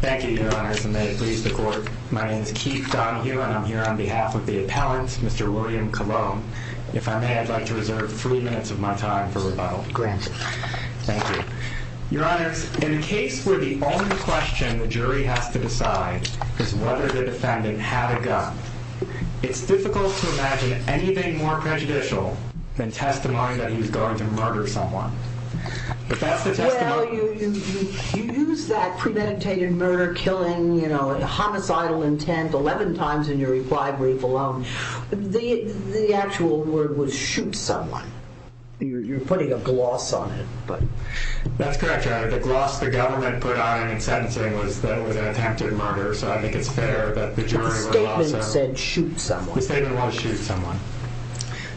Thank you, Your Honors, and may it please the Court, my name is Keith Donohue, and I am here on behalf of the appellant, Mr. William Colon. If I may, I'd like to reserve three minutes of my time for rebuttal. Granted. Thank you. Your Honors, in a case where the only question the jury has to decide is whether the defendant had a gun, it's difficult to imagine anything more prejudicial than testimony that he was going to murder someone. Well, you use that premeditated murder, killing, homicidal intent 11 times in your reply brief alone. The actual word was shoot someone. You're putting a gloss on it. That's correct, Your Honor. The gloss the government put on it in sentencing was that it was an attempted murder, so I think it's fair that the jury would allow it. The statement said shoot someone. The statement was shoot someone.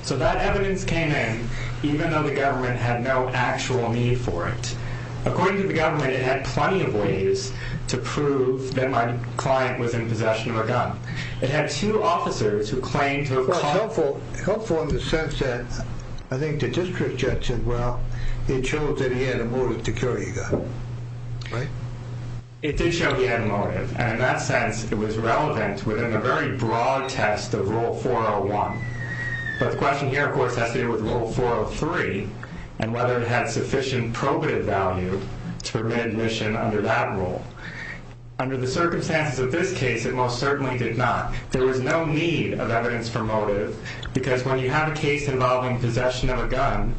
So that evidence came in even though the government had no actual need for it. According to the government, it had plenty of ways to prove that my client was in possession of a gun. It had two officers who claimed to have caught him. Helpful in the sense that I think the district judge said, well, he had showed that he had a motive to kill your guy, right? It did show he had a motive, and in that sense, it was relevant within the very broad test of Rule 401. But the question here, of course, has to do with Rule 403 and whether it had sufficient probative value to permit admission under that rule. Under the circumstances of this case, it most certainly did not. There was no need of evidence for motive because when you have a case involving possession of a gun,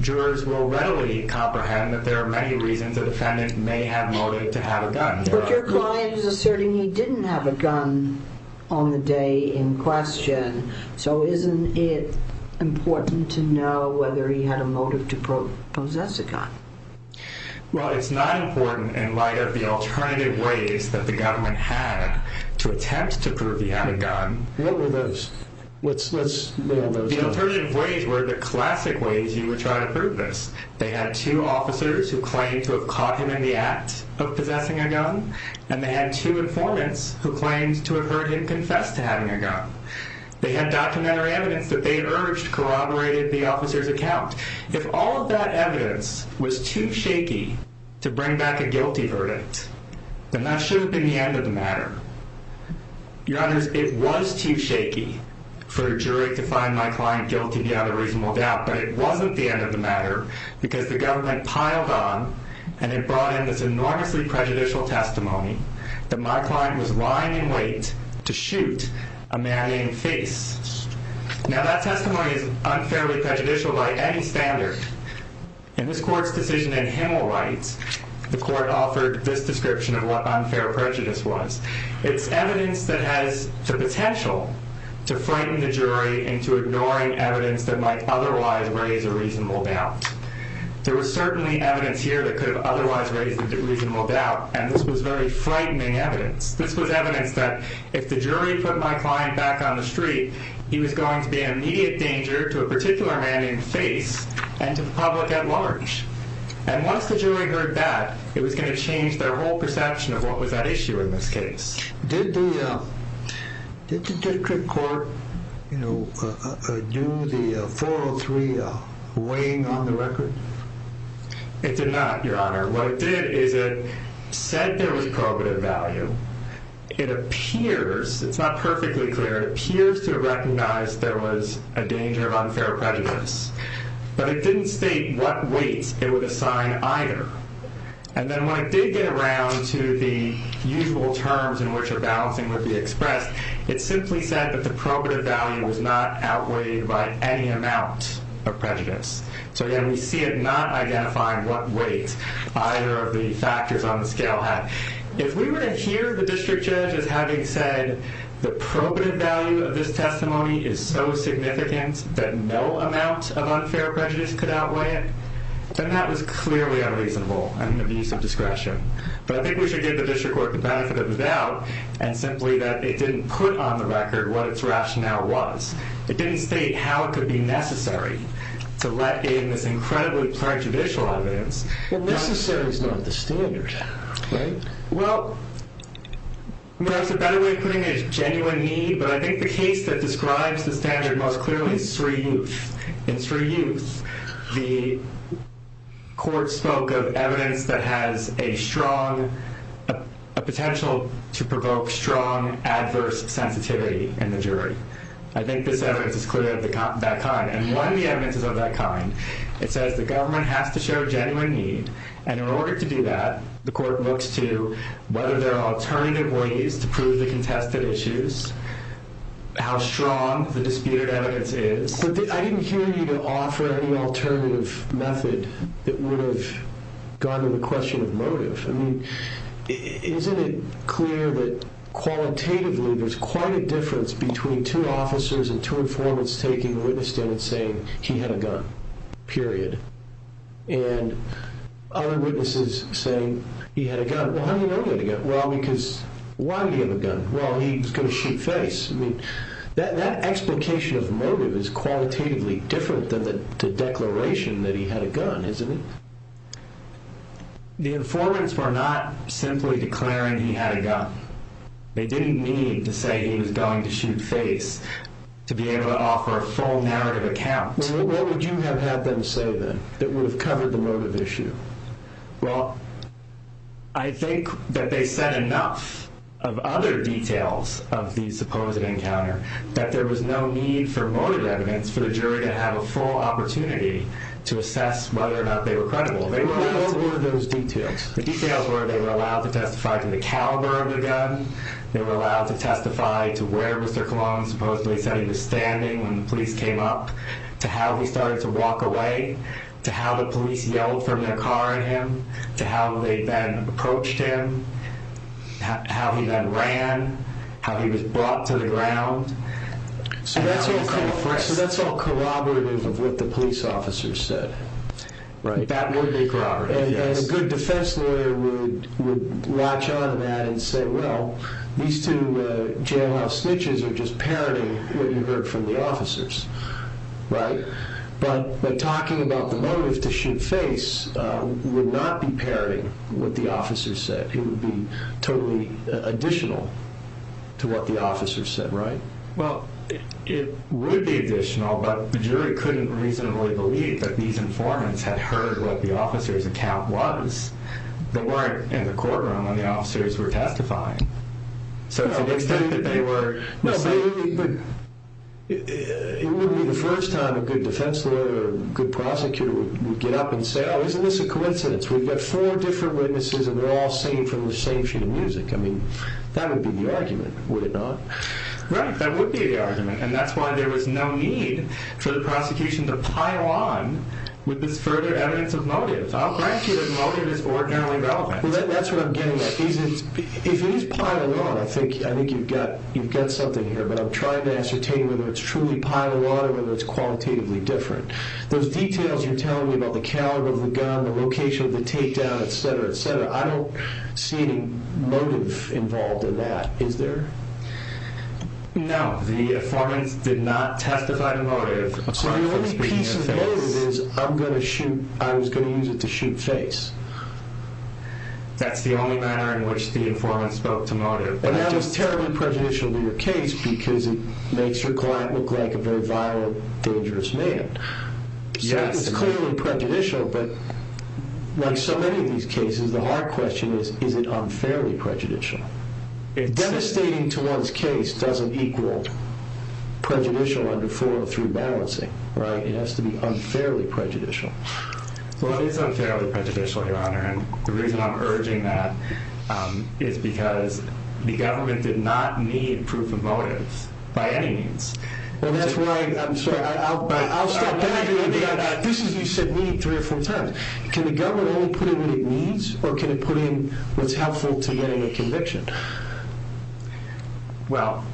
jurors will readily comprehend that there are many reasons a defendant may have motive to have a gun. But your client is asserting he didn't have a gun on the day in question, so isn't it important to know whether he had a motive to possess a gun? Well, it's not important in light of the alternative ways that the government had to attempt to prove he had a gun. What were those? The alternative ways were the classic ways you would try to prove this. They had two officers who claimed to have caught him in the act of possessing a gun, and they had two informants who claimed to have heard him confess to having a gun. They had documentary evidence that they urged corroborated the officer's account. If all of that evidence was too shaky to bring back a guilty verdict, then that should have been the end of the matter. Your Honor, it was too shaky for a jury to find my client guilty without a reasonable doubt, but it wasn't the end of the matter because the government piled on and it brought in this enormously prejudicial testimony that my client was lying in wait to shoot a man in the face. Now, that testimony is unfairly prejudicial by any standard. In this court's decision in Hemel Rights, the court offered this description of what unfair prejudice was. It's evidence that has the potential to frighten the jury into ignoring evidence that might otherwise raise a reasonable doubt. There was certainly evidence here that could have otherwise raised a reasonable doubt, and this was very frightening evidence. This was evidence that if the jury put my client back on the street, he was going to be an immediate danger to a particular man in the face and to the public at large. And once the jury heard that, it was going to change their whole perception of what was at issue in this case. Did the district court, you know, do the 403 weighing on the record? It did not, Your Honor. What it did is it said there was probative value. It appears, it's not perfectly clear, it appears to recognize there was a danger of unfair prejudice. But it didn't state what weight it would assign either. And then when it did get around to the usual terms in which a balancing would be expressed, it simply said that the probative value was not outweighed by any amount of prejudice. So, again, we see it not identifying what weight either of the factors on the scale had. If we were to hear the district judge as having said the probative value of this testimony is so significant that no amount of unfair prejudice could outweigh it, then that was clearly unreasonable and an abuse of discretion. But I think we should give the district court the benefit of the doubt and simply that it didn't put on the record what its rationale was. It didn't state how it could be necessary to let in this incredibly prejudicial evidence. Well, necessarily is not the standard, right? Well, there's a better way of putting it is genuine need. But I think the case that describes the standard most clearly is Sree Youth. In Sree Youth, the court spoke of evidence that has a strong potential to provoke strong adverse sensitivity in the jury. I think this evidence is clearly of that kind. And when the evidence is of that kind, it says the government has to show genuine need. And in order to do that, the court looks to whether there are alternative ways to prove the contested issues, how strong the disputed evidence is. But I didn't hear you offer any alternative method that would have gotten the question of motive. Isn't it clear that qualitatively there's quite a difference between two officers and two informants taking a witness stand and saying he had a gun, period. And other witnesses saying he had a gun. Well, how do you know he had a gun? Well, because why did he have a gun? Well, he was going to shoot face. That explication of motive is qualitatively different than the declaration that he had a gun, isn't it? The informants were not simply declaring he had a gun. They didn't mean to say he was going to shoot face to be able to offer a full narrative account. Well, what would you have had them say then that would have covered the motive issue? Well, I think that they said enough of other details of the supposed encounter that there was no need for motive evidence for the jury to have a full opportunity to assess whether or not they were credible. What were those details? The details were they were allowed to testify to the caliber of the gun. They were allowed to testify to where Mr. Colon supposedly said he was standing when the police came up, to how he started to walk away, to how the police yelled from their car at him, to how they then approached him, how he then ran, how he was brought to the ground. So that's all corroborative of what the police officers said. That would be corroborative. A good defense lawyer would latch on to that and say, well, these two jailhouse snitches are just parroting what you heard from the officers, right? But talking about the motive to shoot face would not be parroting what the officers said. It would be totally additional to what the officers said, right? Well, it would be additional, but the jury couldn't reasonably believe that these informants had heard what the officer's account was. They weren't in the courtroom when the officers were testifying. So to the extent that they were... No, but it wouldn't be the first time a good defense lawyer or good prosecutor would get up and say, oh, isn't this a coincidence? We've got four different witnesses, and they're all saying from the same sheet of music. I mean, that would be the argument, would it not? Right, that would be the argument, and that's why there was no need for the prosecution to pile on with this further evidence of motive. I'll grant you that motive is ordinarily relevant. Well, that's what I'm getting at. If it is piled on, I think you've got something here, but I'm trying to ascertain whether it's truly piled on or whether it's qualitatively different. Those details you're telling me about the caliber of the gun, the location of the takedown, et cetera, et cetera, I don't see any motive involved in that, is there? No, the informant did not testify to motive. So the only piece of evidence is I was going to use it to shoot face. That's the only manner in which the informant spoke to motive. But that was terribly prejudicial to your case because it makes your client look like a very violent, dangerous man. So it was clearly prejudicial, but like so many of these cases, the hard question is, is it unfairly prejudicial? Devastating to one's case doesn't equal prejudicial under 403 balancing, right? It has to be unfairly prejudicial. Well, it is unfairly prejudicial, Your Honor, and the reason I'm urging that is because the government did not need proof of motives by any means. Well, that's why I'm sorry. I'll stop. This is what you said to me three or four times. Can the government only put in what it needs, or can it put in what's helpful to getting a conviction? Well,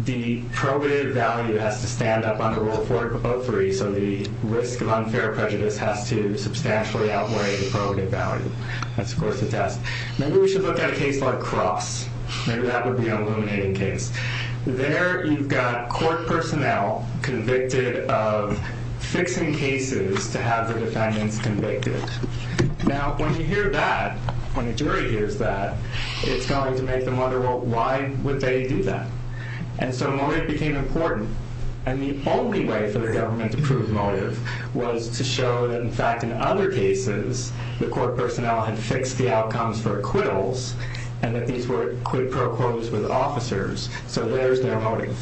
the probative value has to stand up under Rule 403, so the risk of unfair prejudice has to substantially outweigh the probative value. That's of course a test. Maybe we should look at a case like Cross. Maybe that would be an illuminating case. There you've got court personnel convicted of fixing cases to have the defendants convicted. Now, when you hear that, when a jury hears that, it's going to make them wonder, well, why would they do that? And so motive became important, and the only way for the government to prove motive was to show that, in fact, in other cases, the court personnel had fixed the outcomes for acquittals, and that these were quid pro quos with officers, so there's their motive.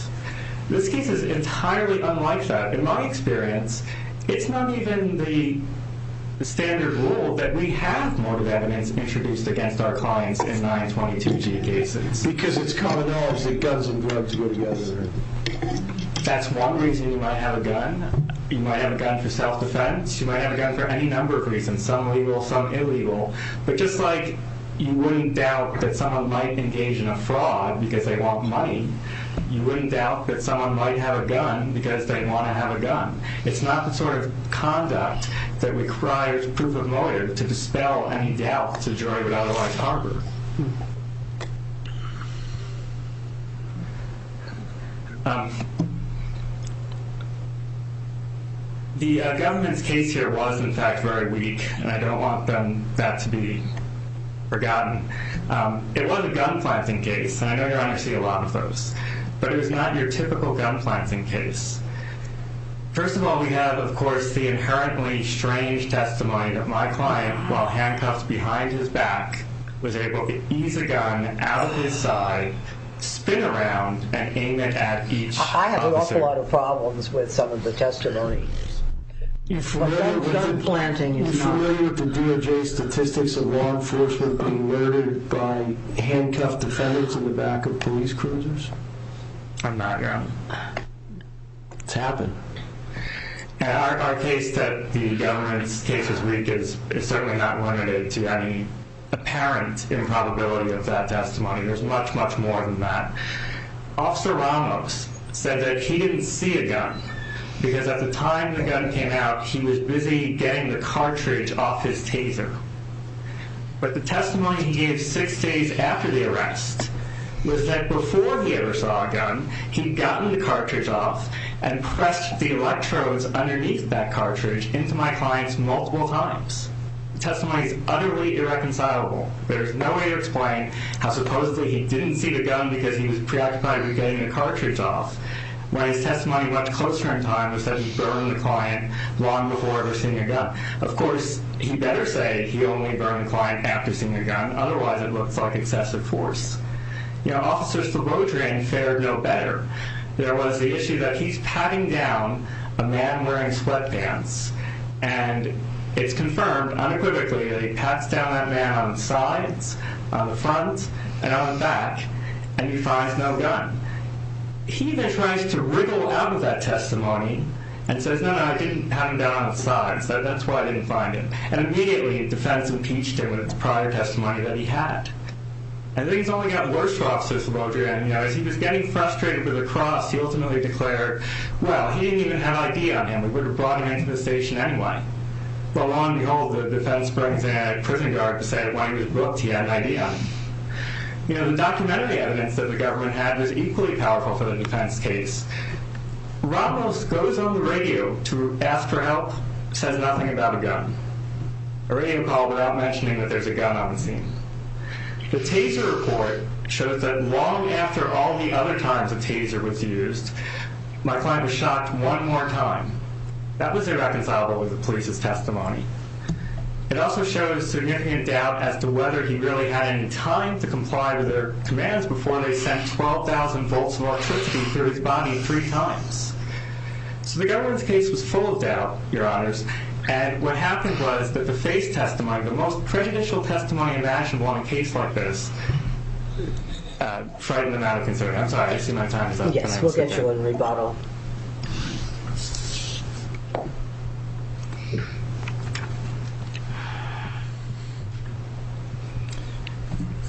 This case is entirely unlike that. In my experience, it's not even the standard rule that we have motive evidence introduced against our clients in 922G cases. Because it's common knowledge that guns and drugs go together. That's one reason you might have a gun. You might have a gun for self-defense. You might have a gun for any number of reasons, some legal, some illegal. But just like you wouldn't doubt that someone might engage in a fraud because they want money, you wouldn't doubt that someone might have a gun because they want to have a gun. It's not the sort of conduct that requires proof of motive to dispel any doubt the jury would otherwise harbor. The government's case here was, in fact, very weak, and I don't want that to be forgotten. It was a gun-planting case, and I know you're going to see a lot of those. But it was not your typical gun-planting case. First of all, we have, of course, the inherently strange testimony that my client, while handcuffed behind his back, was able to ease a gun out of his side, spin around, and aim it at each officer. I have an awful lot of problems with some of the testimonies. You're familiar with the DOJ statistics of law enforcement being murdered by handcuffed defendants in the back of police cruisers? I'm not, y'all. It's happened. Our case that the government's case was weak is certainly not limited to any apparent improbability of that testimony. There's much, much more than that. Officer Ramos said that he didn't see a gun because at the time the gun came out, he was busy getting the cartridge off his taser. But the testimony he gave six days after the arrest was that before he ever saw a gun, he'd gotten the cartridge off and pressed the electrodes underneath that cartridge into my client's multiple times. The testimony is utterly irreconcilable. There's no way to explain how supposedly he didn't see the gun because he was preoccupied with getting the cartridge off, while his testimony much closer in time was that he burned the client long before ever seeing a gun. Of course, he better say he only burned the client after seeing a gun. Otherwise, it looks like excessive force. You know, officers for road drain fare no better. There was the issue that he's patting down a man wearing sweatpants, and it's confirmed unequivocally that he pats down that man on the sides, on the front, and on the back, and he finds no gun. He then tries to wriggle out of that testimony and says, no, no, I didn't have him down on his side. So that's why I didn't find him. And immediately, defense impeached him with the prior testimony that he had. And things only got worse for officers for road drain. As he was getting frustrated with the cross, he ultimately declared, well, he didn't even have ID on him. We would have brought him into the station anyway. But lo and behold, the defense brings in a prison guard to say, well, he was booked. He had an ID on him. You know, the documentary evidence that the government had was equally powerful for the defense case. Ramos goes on the radio to ask for help, says nothing about a gun. A radio call without mentioning that there's a gun on the scene. The Taser report shows that long after all the other times a Taser was used, my client was shot one more time. That was irreconcilable with the police's testimony. It also shows significant doubt as to whether he really had any time to comply with their commands before they sent 12,000 volts of electricity through his body three times. So the government's case was full of doubt, Your Honors. And what happened was that the face testimony, the most prejudicial testimony imaginable on a case like this, frightened the matter of concern. I'm sorry, I see my time is up. Yes, we'll get you a rebuttal.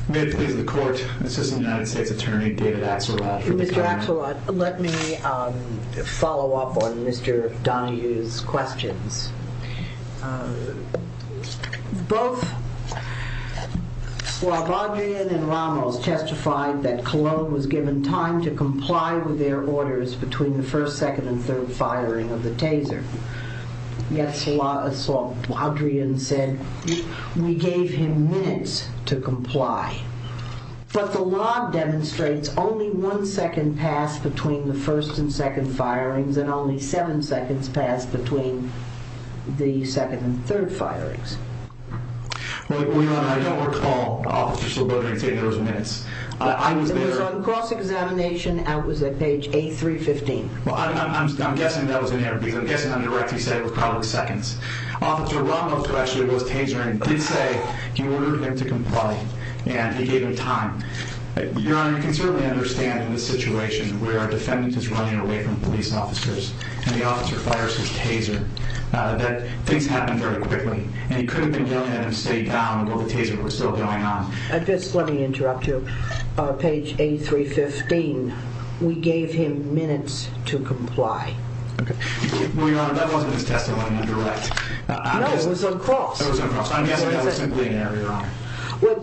May it please the Court, Assistant United States Attorney David Axelrod. Mr. Axelrod, let me follow up on Mr. Donahue's questions. Both Slobodin and Ramos testified that Cologne was given time to comply with their orders between the first, second, and third firing of the Taser. Yes, Slobodin said we gave him minutes to comply. But the law demonstrates only one second passed between the first and second firings and only seven seconds passed between the second and third firings. Well, Your Honor, I don't recall Officer Slobodin taking those minutes. It was on cross-examination. It was on page 8315. Well, I'm guessing that was in there because I'm guessing on the record he said it was probably seconds. Officer Ramos, who actually was Taser, did say he ordered him to comply and he gave him time. Your Honor, you can certainly understand in a situation where a defendant is running away from police officers and the officer fires his Taser, that things happen very quickly. And he could have been willing to let him stay down, although the Taser was still going on. Let me interrupt you. On page 8315, we gave him minutes to comply. Well, Your Honor, that wasn't his testimony in direct. No, it was on cross. It was on cross. I'm guessing that was simply an error, Your Honor.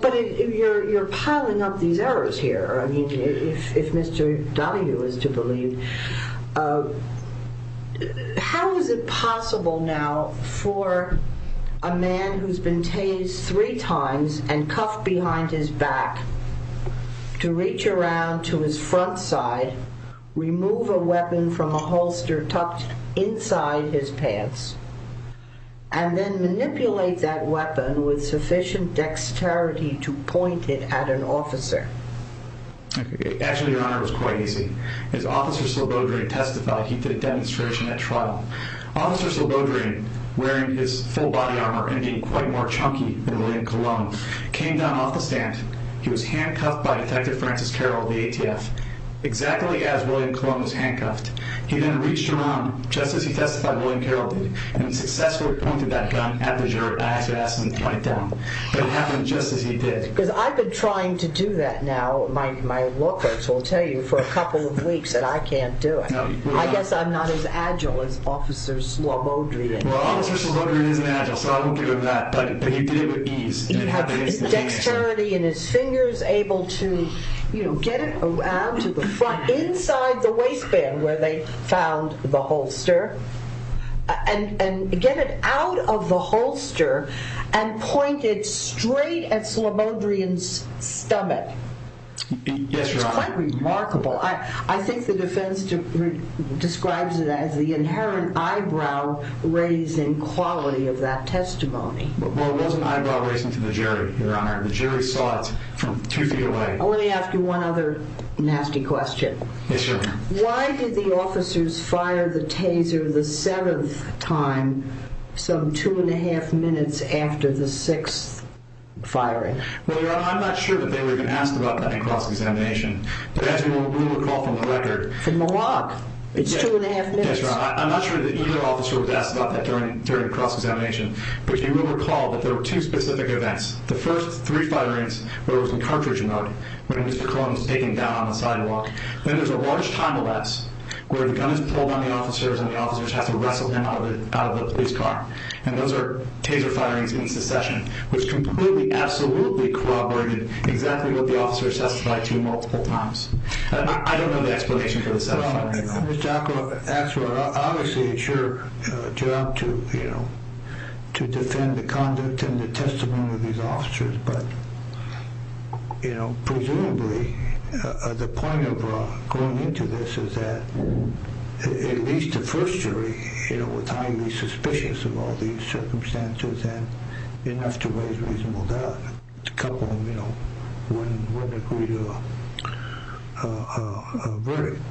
But you're piling up these errors here, if Mr. Donahue is to believe. How is it possible now for a man who's been Tased three times and cuffed behind his back to reach around to his front side, remove a weapon from a holster tucked inside his pants, and then manipulate that weapon with sufficient dexterity to point it at an officer? Actually, Your Honor, it was quite easy. As Officer Silbodrian testified, he did a demonstration at trial. Officer Silbodrian, wearing his full body armor and being quite more chunky than William Colon, came down off the stand. He was handcuffed by Detective Francis Carroll of the ATF, exactly as William Colon was handcuffed. He then reached around, just as he testified William Carroll did, and successfully pointed that gun at the juror to ask him to point it down. But it happened just as he did. Because I've been trying to do that now. My law clerks will tell you for a couple of weeks that I can't do it. I guess I'm not as agile as Officer Silbodrian. Well, Officer Silbodrian isn't agile, so I won't give him that. But he did it with ease. He had dexterity in his fingers, able to get it around to the front, inside the waistband where they found the holster, and get it out of the holster and point it straight at Silbodrian's stomach. Yes, Your Honor. It's quite remarkable. I think the defense describes it as the inherent eyebrow-raising quality of that testimony. Well, it wasn't eyebrow-raising to the jury, Your Honor. The jury saw it from two feet away. Let me ask you one other nasty question. Yes, Your Honor. Why did the officers fire the taser the seventh time, some two and a half minutes after the sixth firing? Well, Your Honor, I'm not sure that they were even asked about that in cross-examination. But as you will recall from the record— From the walk. It's two and a half minutes. Yes, Your Honor. I'm not sure that either officer was asked about that during cross-examination. But you will recall that there were two specific events. The first, three firings where it was in cartridge mode when Mr. Colon was taken down on the sidewalk. Then there's a large time-lapse where the gun is pulled on the officers and the officers have to wrestle him out of the police car. And those are taser firings in succession, which completely absolutely corroborated exactly what the officers testified to multiple times. I don't know the explanation for the seventh firing, though. Well, Ms. Jacobs, obviously it's your job to defend the conduct and the testimony of these officers. But, you know, presumably the point of going into this is that at least the first jury, you know, was highly suspicious of all these circumstances and enough to raise reasonable doubt. A couple of them, you know, wouldn't agree to a verdict.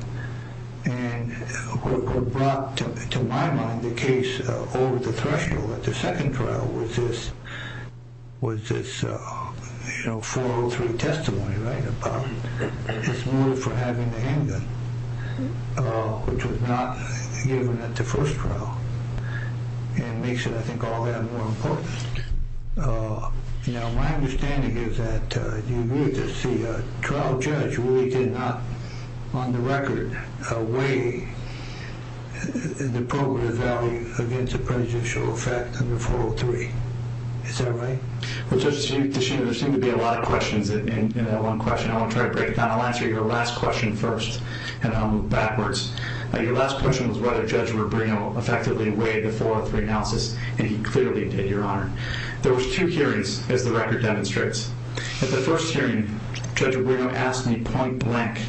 And what brought to my mind the case over the threshold at the second trial was this, you know, 403 testimony, right, about his motive for having the handgun, which was not given at the first trial. And it makes it, I think, all the more important. Now, my understanding is that the trial judge really did not, on the record, weigh the probative value against the prejudicial effect under 403. Is that right? Well, Judge, there seem to be a lot of questions in that one question. I want to try to break it down. I'll answer your last question first, and then I'll move backwards. Your last question was whether Judge Rubino effectively weighed the 403 analysis, and he clearly did, Your Honor. There was two hearings, as the record demonstrates. At the first hearing, Judge Rubino asked me point blank,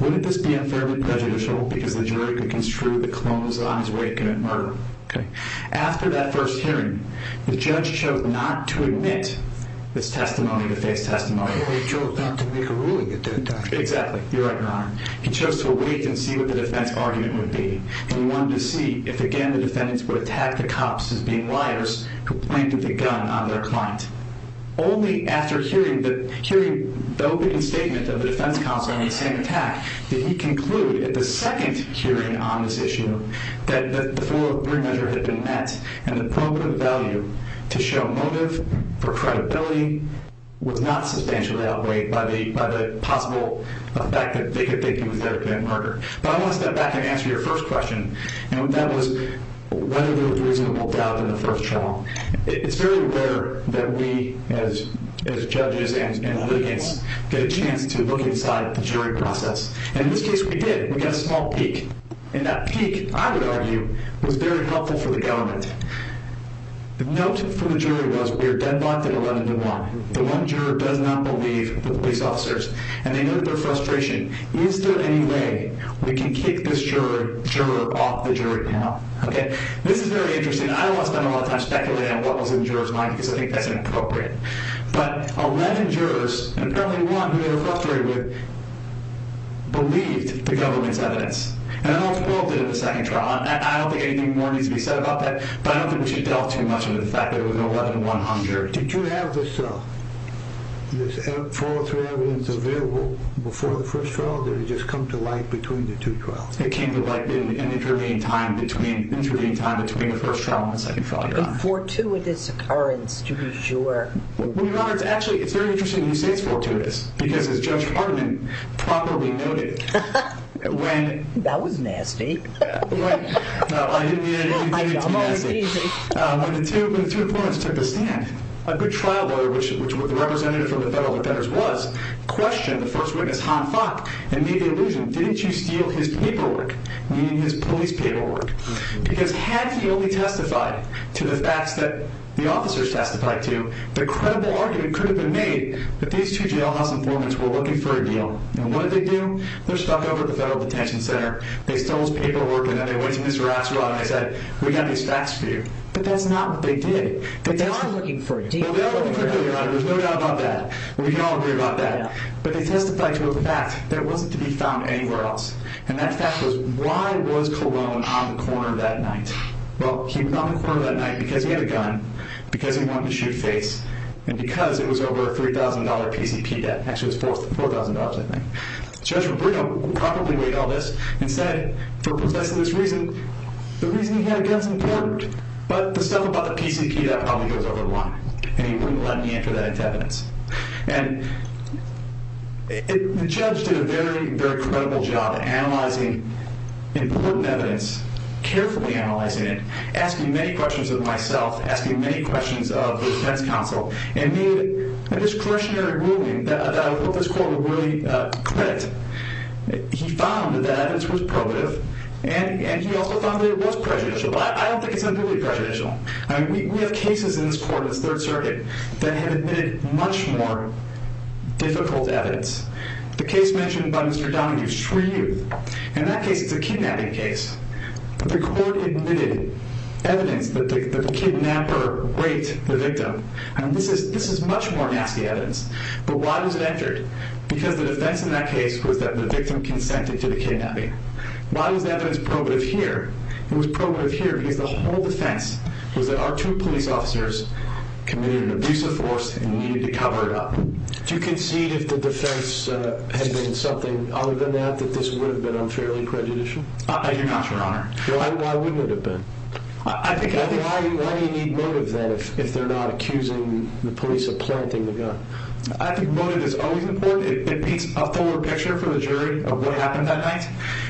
wouldn't this be unfairly prejudicial because the jury could construe the clone was on his way to commit murder? Okay. After that first hearing, the judge chose not to admit this testimony to face testimony. He chose not to make a ruling at that time. Exactly. You're right, Your Honor. He chose to wait and see what the defense argument would be. He wanted to see if, again, the defendants would attack the cops as being liars who pointed the gun on their client. Only after hearing the opening statement of the defense counsel on the same attack did he conclude, at the second hearing on this issue, that the 403 measure had been met, and the probative value to show motive for credibility was not substantially outweighed by the possible effect that they could think he was going to commit murder. But I want to step back and answer your first question, and that was whether there was reasonable doubt in the first trial. It's very rare that we, as judges and litigants, get a chance to look inside the jury process. And in this case, we did. We got a small peak. And that peak, I would argue, was very helpful for the government. The note from the jury was, we are deadlocked at 11 to 1. The one juror does not believe the police officers, and they noted their frustration. Is there any way we can kick this juror off the jury panel? This is very interesting. I don't want to spend a lot of time speculating on what was in the juror's mind, because I think that's inappropriate. But 11 jurors, and apparently one who they were frustrated with, believed the government's evidence. And all 12 did at the second trial. I don't think anything more needs to be said about that, but I don't think we should delve too much into the fact that it was 11-100. Did you have this follow-through evidence available before the first trial, or did it just come to light between the two trials? It came to light in the intervening time between the first trial and the second trial, Your Honor. A fortuitous occurrence, to be sure. Well, Your Honor, actually, it's very interesting you say it's fortuitous, because as Judge Hartman properly noted, when- That was nasty. No, I didn't mean anything nasty. When the two informants took the stand, a good trial lawyer, which the representative from the Federal Defenders was, questioned the first witness, Han Fock, and made the allusion, didn't you steal his paperwork, meaning his police paperwork? Because had he only testified to the facts that the officers testified to, the credible argument could have been made that these two jailhouse informants were looking for a deal. And what did they do? They're stuck over at the Federal Detention Center. They stole his paperwork, and then they went to Ms. Ratzlaff, and they said, we got these facts for you. But that's not what they did. But they are looking for a deal. They are looking for a deal, Your Honor. There's no doubt about that. We can all agree about that. But they testified to a fact that wasn't to be found anywhere else. And that fact was, why was Colon on the corner that night? Well, he was on the corner that night because he had a gun, because he wanted to shoot face, and because it was over a $3,000 PCP debt. Actually, it was $4,000, I think. Judge Brito probably weighed all this and said, for possessing this reason, the reason he had a gun is important, but the stuff about the PCP debt probably goes over the line, and he wouldn't let me enter that into evidence. And the judge did a very, very credible job analyzing important evidence, carefully analyzing it, asking many questions of myself, asking many questions of the defense counsel, and made a discretionary ruling that I hope this court will really credit. He found that the evidence was probative, and he also found that it was prejudicial. I don't think it's entirely prejudicial. We have cases in this court, this Third Circuit, that have admitted much more difficult evidence. The case mentioned by Mr. Donahue, Shreve, in that case it's a kidnapping case. The court admitted evidence that the kidnapper raped the victim. And this is much more nasty evidence. But why was it entered? Because the defense in that case was that the victim consented to the kidnapping. Why was the evidence probative here? It was probative here because the whole defense was that our two police officers committed an abusive force and needed to cover it up. Do you concede if the defense had been something other than that, that this would have been unfairly prejudicial? I do not, Your Honor. Why wouldn't it have been? Why do you need motive then if they're not accusing the police of planting the gun? I think motive is always important. It paints a forward picture for the jury of what happened that night.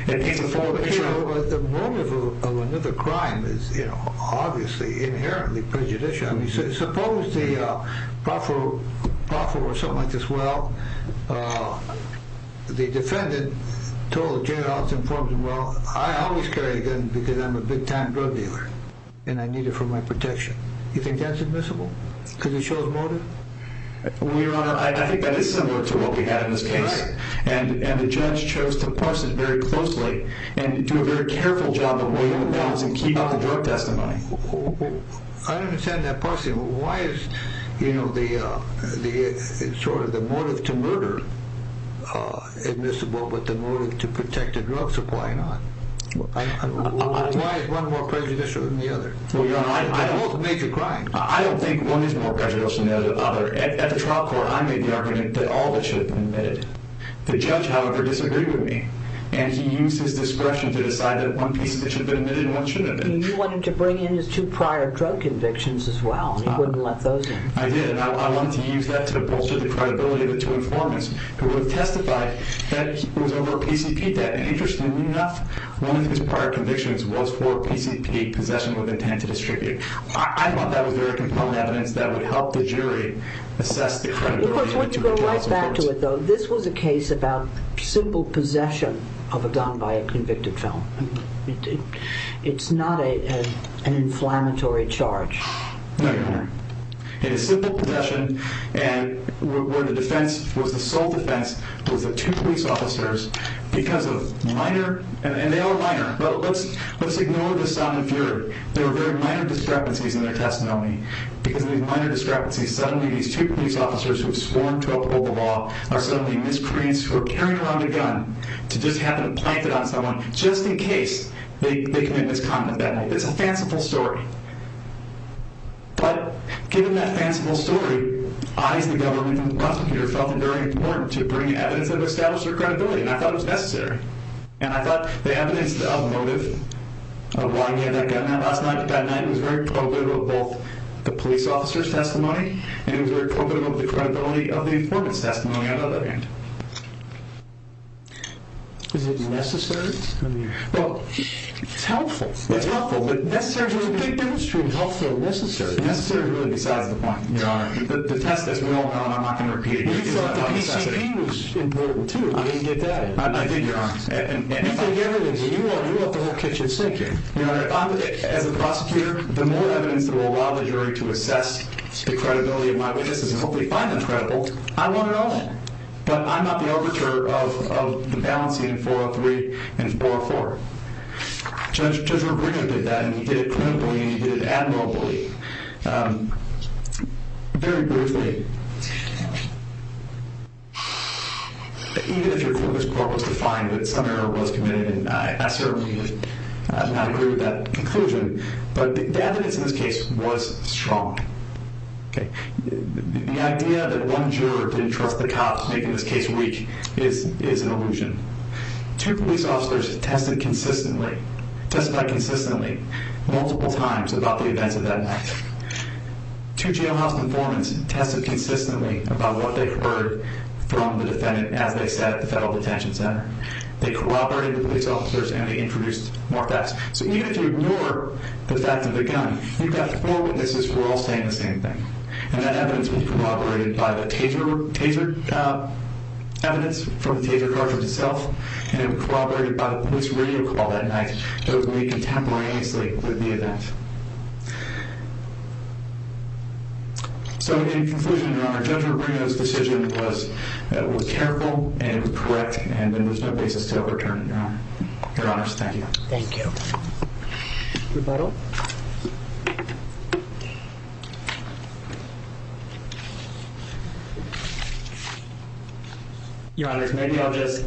It paints a forward picture. But the motive of another crime is obviously inherently prejudicial. Suppose the proffer or something like this, well, the defendant told the jailhouse informant, well, I always carry a gun because I'm a big-time drug dealer, and I need it for my protection. You think that's admissible? Because it shows motive? I think that is similar to what we had in this case. And the judge chose to parse it very closely and do a very careful job of weighing the balance and keeping up the drug testimony. I don't understand that parsing. Why is the motive to murder admissible but the motive to protect the drug supplying not? Why is one more prejudicial than the other? Well, Your Honor, I don't think one is more prejudicial than the other. At the trial court, I made the argument that all of it should have been admitted. The judge, however, disagreed with me, and he used his discretion to decide that one piece of it should have been admitted and one should have been admitted. You wanted to bring in his two prior drug convictions as well, and you wouldn't let those in. I did, and I wanted to use that to bolster the credibility of the two informants who have testified that it was over a PCP debt. And interestingly enough, one of his prior convictions was for PCP possession with intent to distribute. I thought that was very compelling evidence that would help the jury assess the credibility of the two charges. Of course, let's go right back to it, though. This was a case about simple possession of a gun by a convicted felon. No, Your Honor. It is simple possession and where the defense was the sole defense was the two police officers because of minor, and they are minor, but let's ignore the sound of fury. There were very minor discrepancies in their testimony. Because of these minor discrepancies, suddenly these two police officers who have sworn to uphold the law are suddenly miscreants who are carrying around a gun to just happen to plant it on someone just in case they commit misconduct that night. It's a fanciful story. But given that fanciful story, I, as the government prosecutor, felt it very important to bring evidence that would establish their credibility, and I thought it was necessary. And I thought the evidence of motive, of why he had that gun that night, was very probative of both the police officer's testimony and it was very probative of the credibility of the informant's testimony, on the other hand. Is it necessary? Well, it's helpful. It's helpful, but necessary is a big difference between helpful and necessary. Necessary is really besides the point. Your Honor, the test is, we all know, and I'm not going to repeat it, but it is a necessity. We thought the PCP was important, too. I didn't get that. I did, Your Honor. You take evidence, and you let the whole kitchen sink in. Your Honor, as a prosecutor, the more evidence that will allow the jury to assess the credibility of my witnesses and hopefully find them credible, I want it all in. But I'm not the overture of the balancing of 403 and 404. Judge Rodriguez did that, and he did it credibly, and he did it admirably. Very briefly, even if your court was defined that some error was committed, and I certainly do not agree with that conclusion, but the evidence in this case was strong. The idea that one juror didn't trust the cops, making this case weak, is an illusion. Two police officers tested consistently, testified consistently, multiple times about the events of that night. Two jailhouse informants tested consistently about what they heard from the defendant as they sat at the federal detention center. They corroborated the police officers, and they introduced more facts. So even if you ignore the fact of the gun, you've got four witnesses who are all saying the same thing. And that evidence was corroborated by the taser evidence from the taser cartridge itself, and it was corroborated by the police radio call that night that was made contemporaneously with the event. So in conclusion, Your Honor, Judge Rubino's decision was careful and correct, and there's no basis to overturn it, Your Honor. Thank you. Rebuttal. Your Honor, maybe I'll just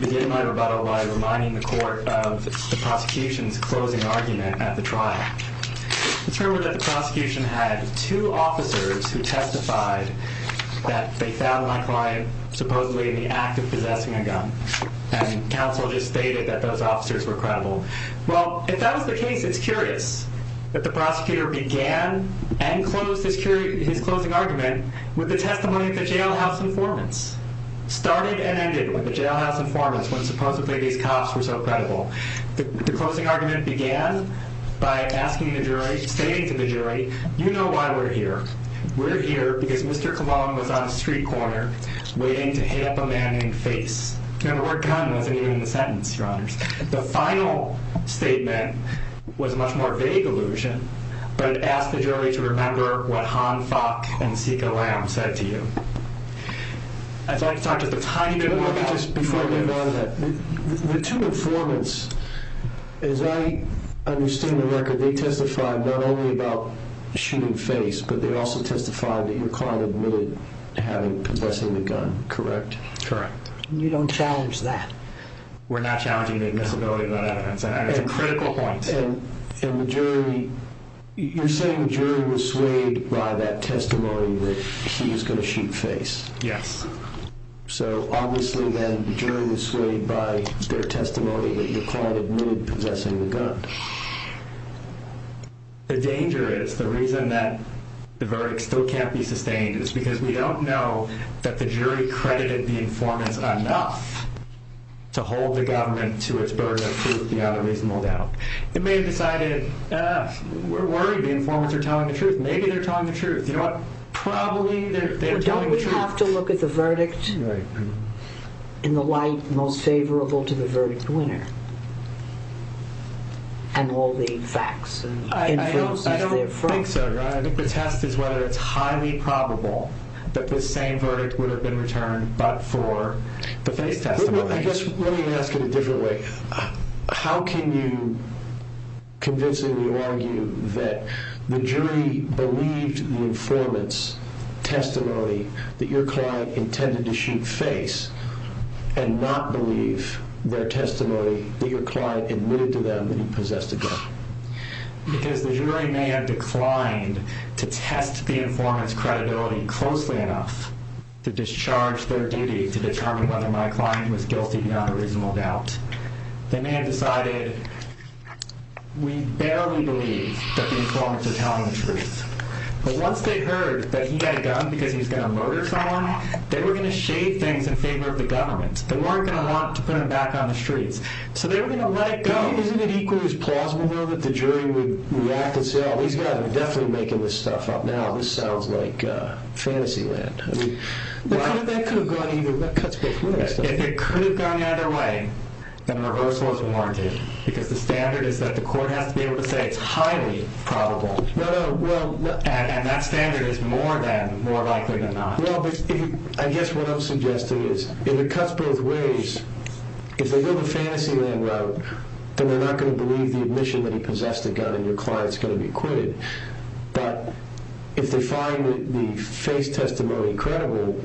begin my rebuttal by reminding the court of the prosecution's closing argument at the trial. It's rumored that the prosecution had two officers who testified that they found my client supposedly in the act of possessing a gun. And counsel just stated that those officers were credible. Well, if that was the case, it's curious that the prosecutor began and concluded his closing argument with the testimony of the jailhouse informants, started and ended with the jailhouse informants when supposedly these cops were so credible. The closing argument began by asking the jury, stating to the jury, you know why we're here. We're here because Mr. Colon was on a street corner waiting to hit up a man in the face. Remember, the word gun wasn't even in the sentence, Your Honors. The final statement was a much more vague allusion, but it asked the jury to remember what Han Fok and Sika Lam said to you. I'd like to talk just a tiny bit more about this before I move on to that. The two informants, as I understand the record, they testified not only about shooting face, but they also testified that your client admitted having possessing the gun, correct? Correct. And you don't challenge that? We're not challenging the admissibility of the evidence. It's a critical point. And the jury, you're saying the jury was swayed by that testimony that he was going to shoot face? Yes. So obviously then the jury was swayed by their testimony that your client admitted possessing the gun. The danger is, the reason that the verdict still can't be sustained is because we don't know that the jury credited the informants enough to hold the government to its burden of truth without a reasonable doubt. It may have decided, ah, we're worried the informants are telling the truth. Maybe they're telling the truth. You know what? Probably they're telling the truth. Don't we have to look at the verdict in the light most favorable to the verdict winner and all the facts and inferences therefrom? I don't think so, Your Honor. I think the test is whether it's highly probable that the same verdict would have been returned but for the face testimony. Let me ask it a different way. How can you convincingly argue that the jury believed the informants' testimony that your client intended to shoot face and not believe their testimony that your client admitted to them that he possessed a gun? Because the jury may have declined to test the informants' credibility closely enough to discharge their duty to determine whether my client was guilty without a reasonable doubt. They may have decided, we barely believe that the informants are telling the truth. But once they heard that he had a gun because he was going to murder someone, they were going to shade things in favor of the government. They weren't going to want to put him back on the streets. So they were going to let it go. Isn't it equally as plausible, though, that the jury would react and say, oh, these guys are definitely making this stuff up now. This sounds like fantasy land. I mean, that cuts both ways. If it could have gone either way, then reversal is warranted because the standard is that the court has to be able to say it's highly probable. And that standard is more than more likely than not. Well, I guess what I'm suggesting is if it cuts both ways, if they go the fantasy land route, then they're not going to believe the admission that he possessed a gun and your client's going to be acquitted. But if they find the face testimony credible,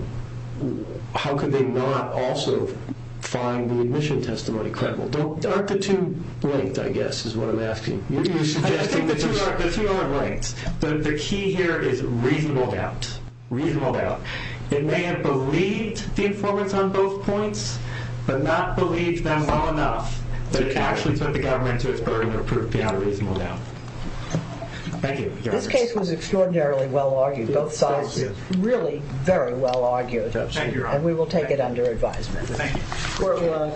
how could they not also find the admission testimony credible? Aren't the two linked, I guess, is what I'm asking. I think the two aren't linked. The key here is reasonable doubt, reasonable doubt. It may have believed the informants on both points but not believed them well enough to actually put the government to its burden or prove beyond a reasonable doubt. Thank you. This case was extraordinarily well argued. Both sides really very well argued. And we will take it under advisement. Thank you.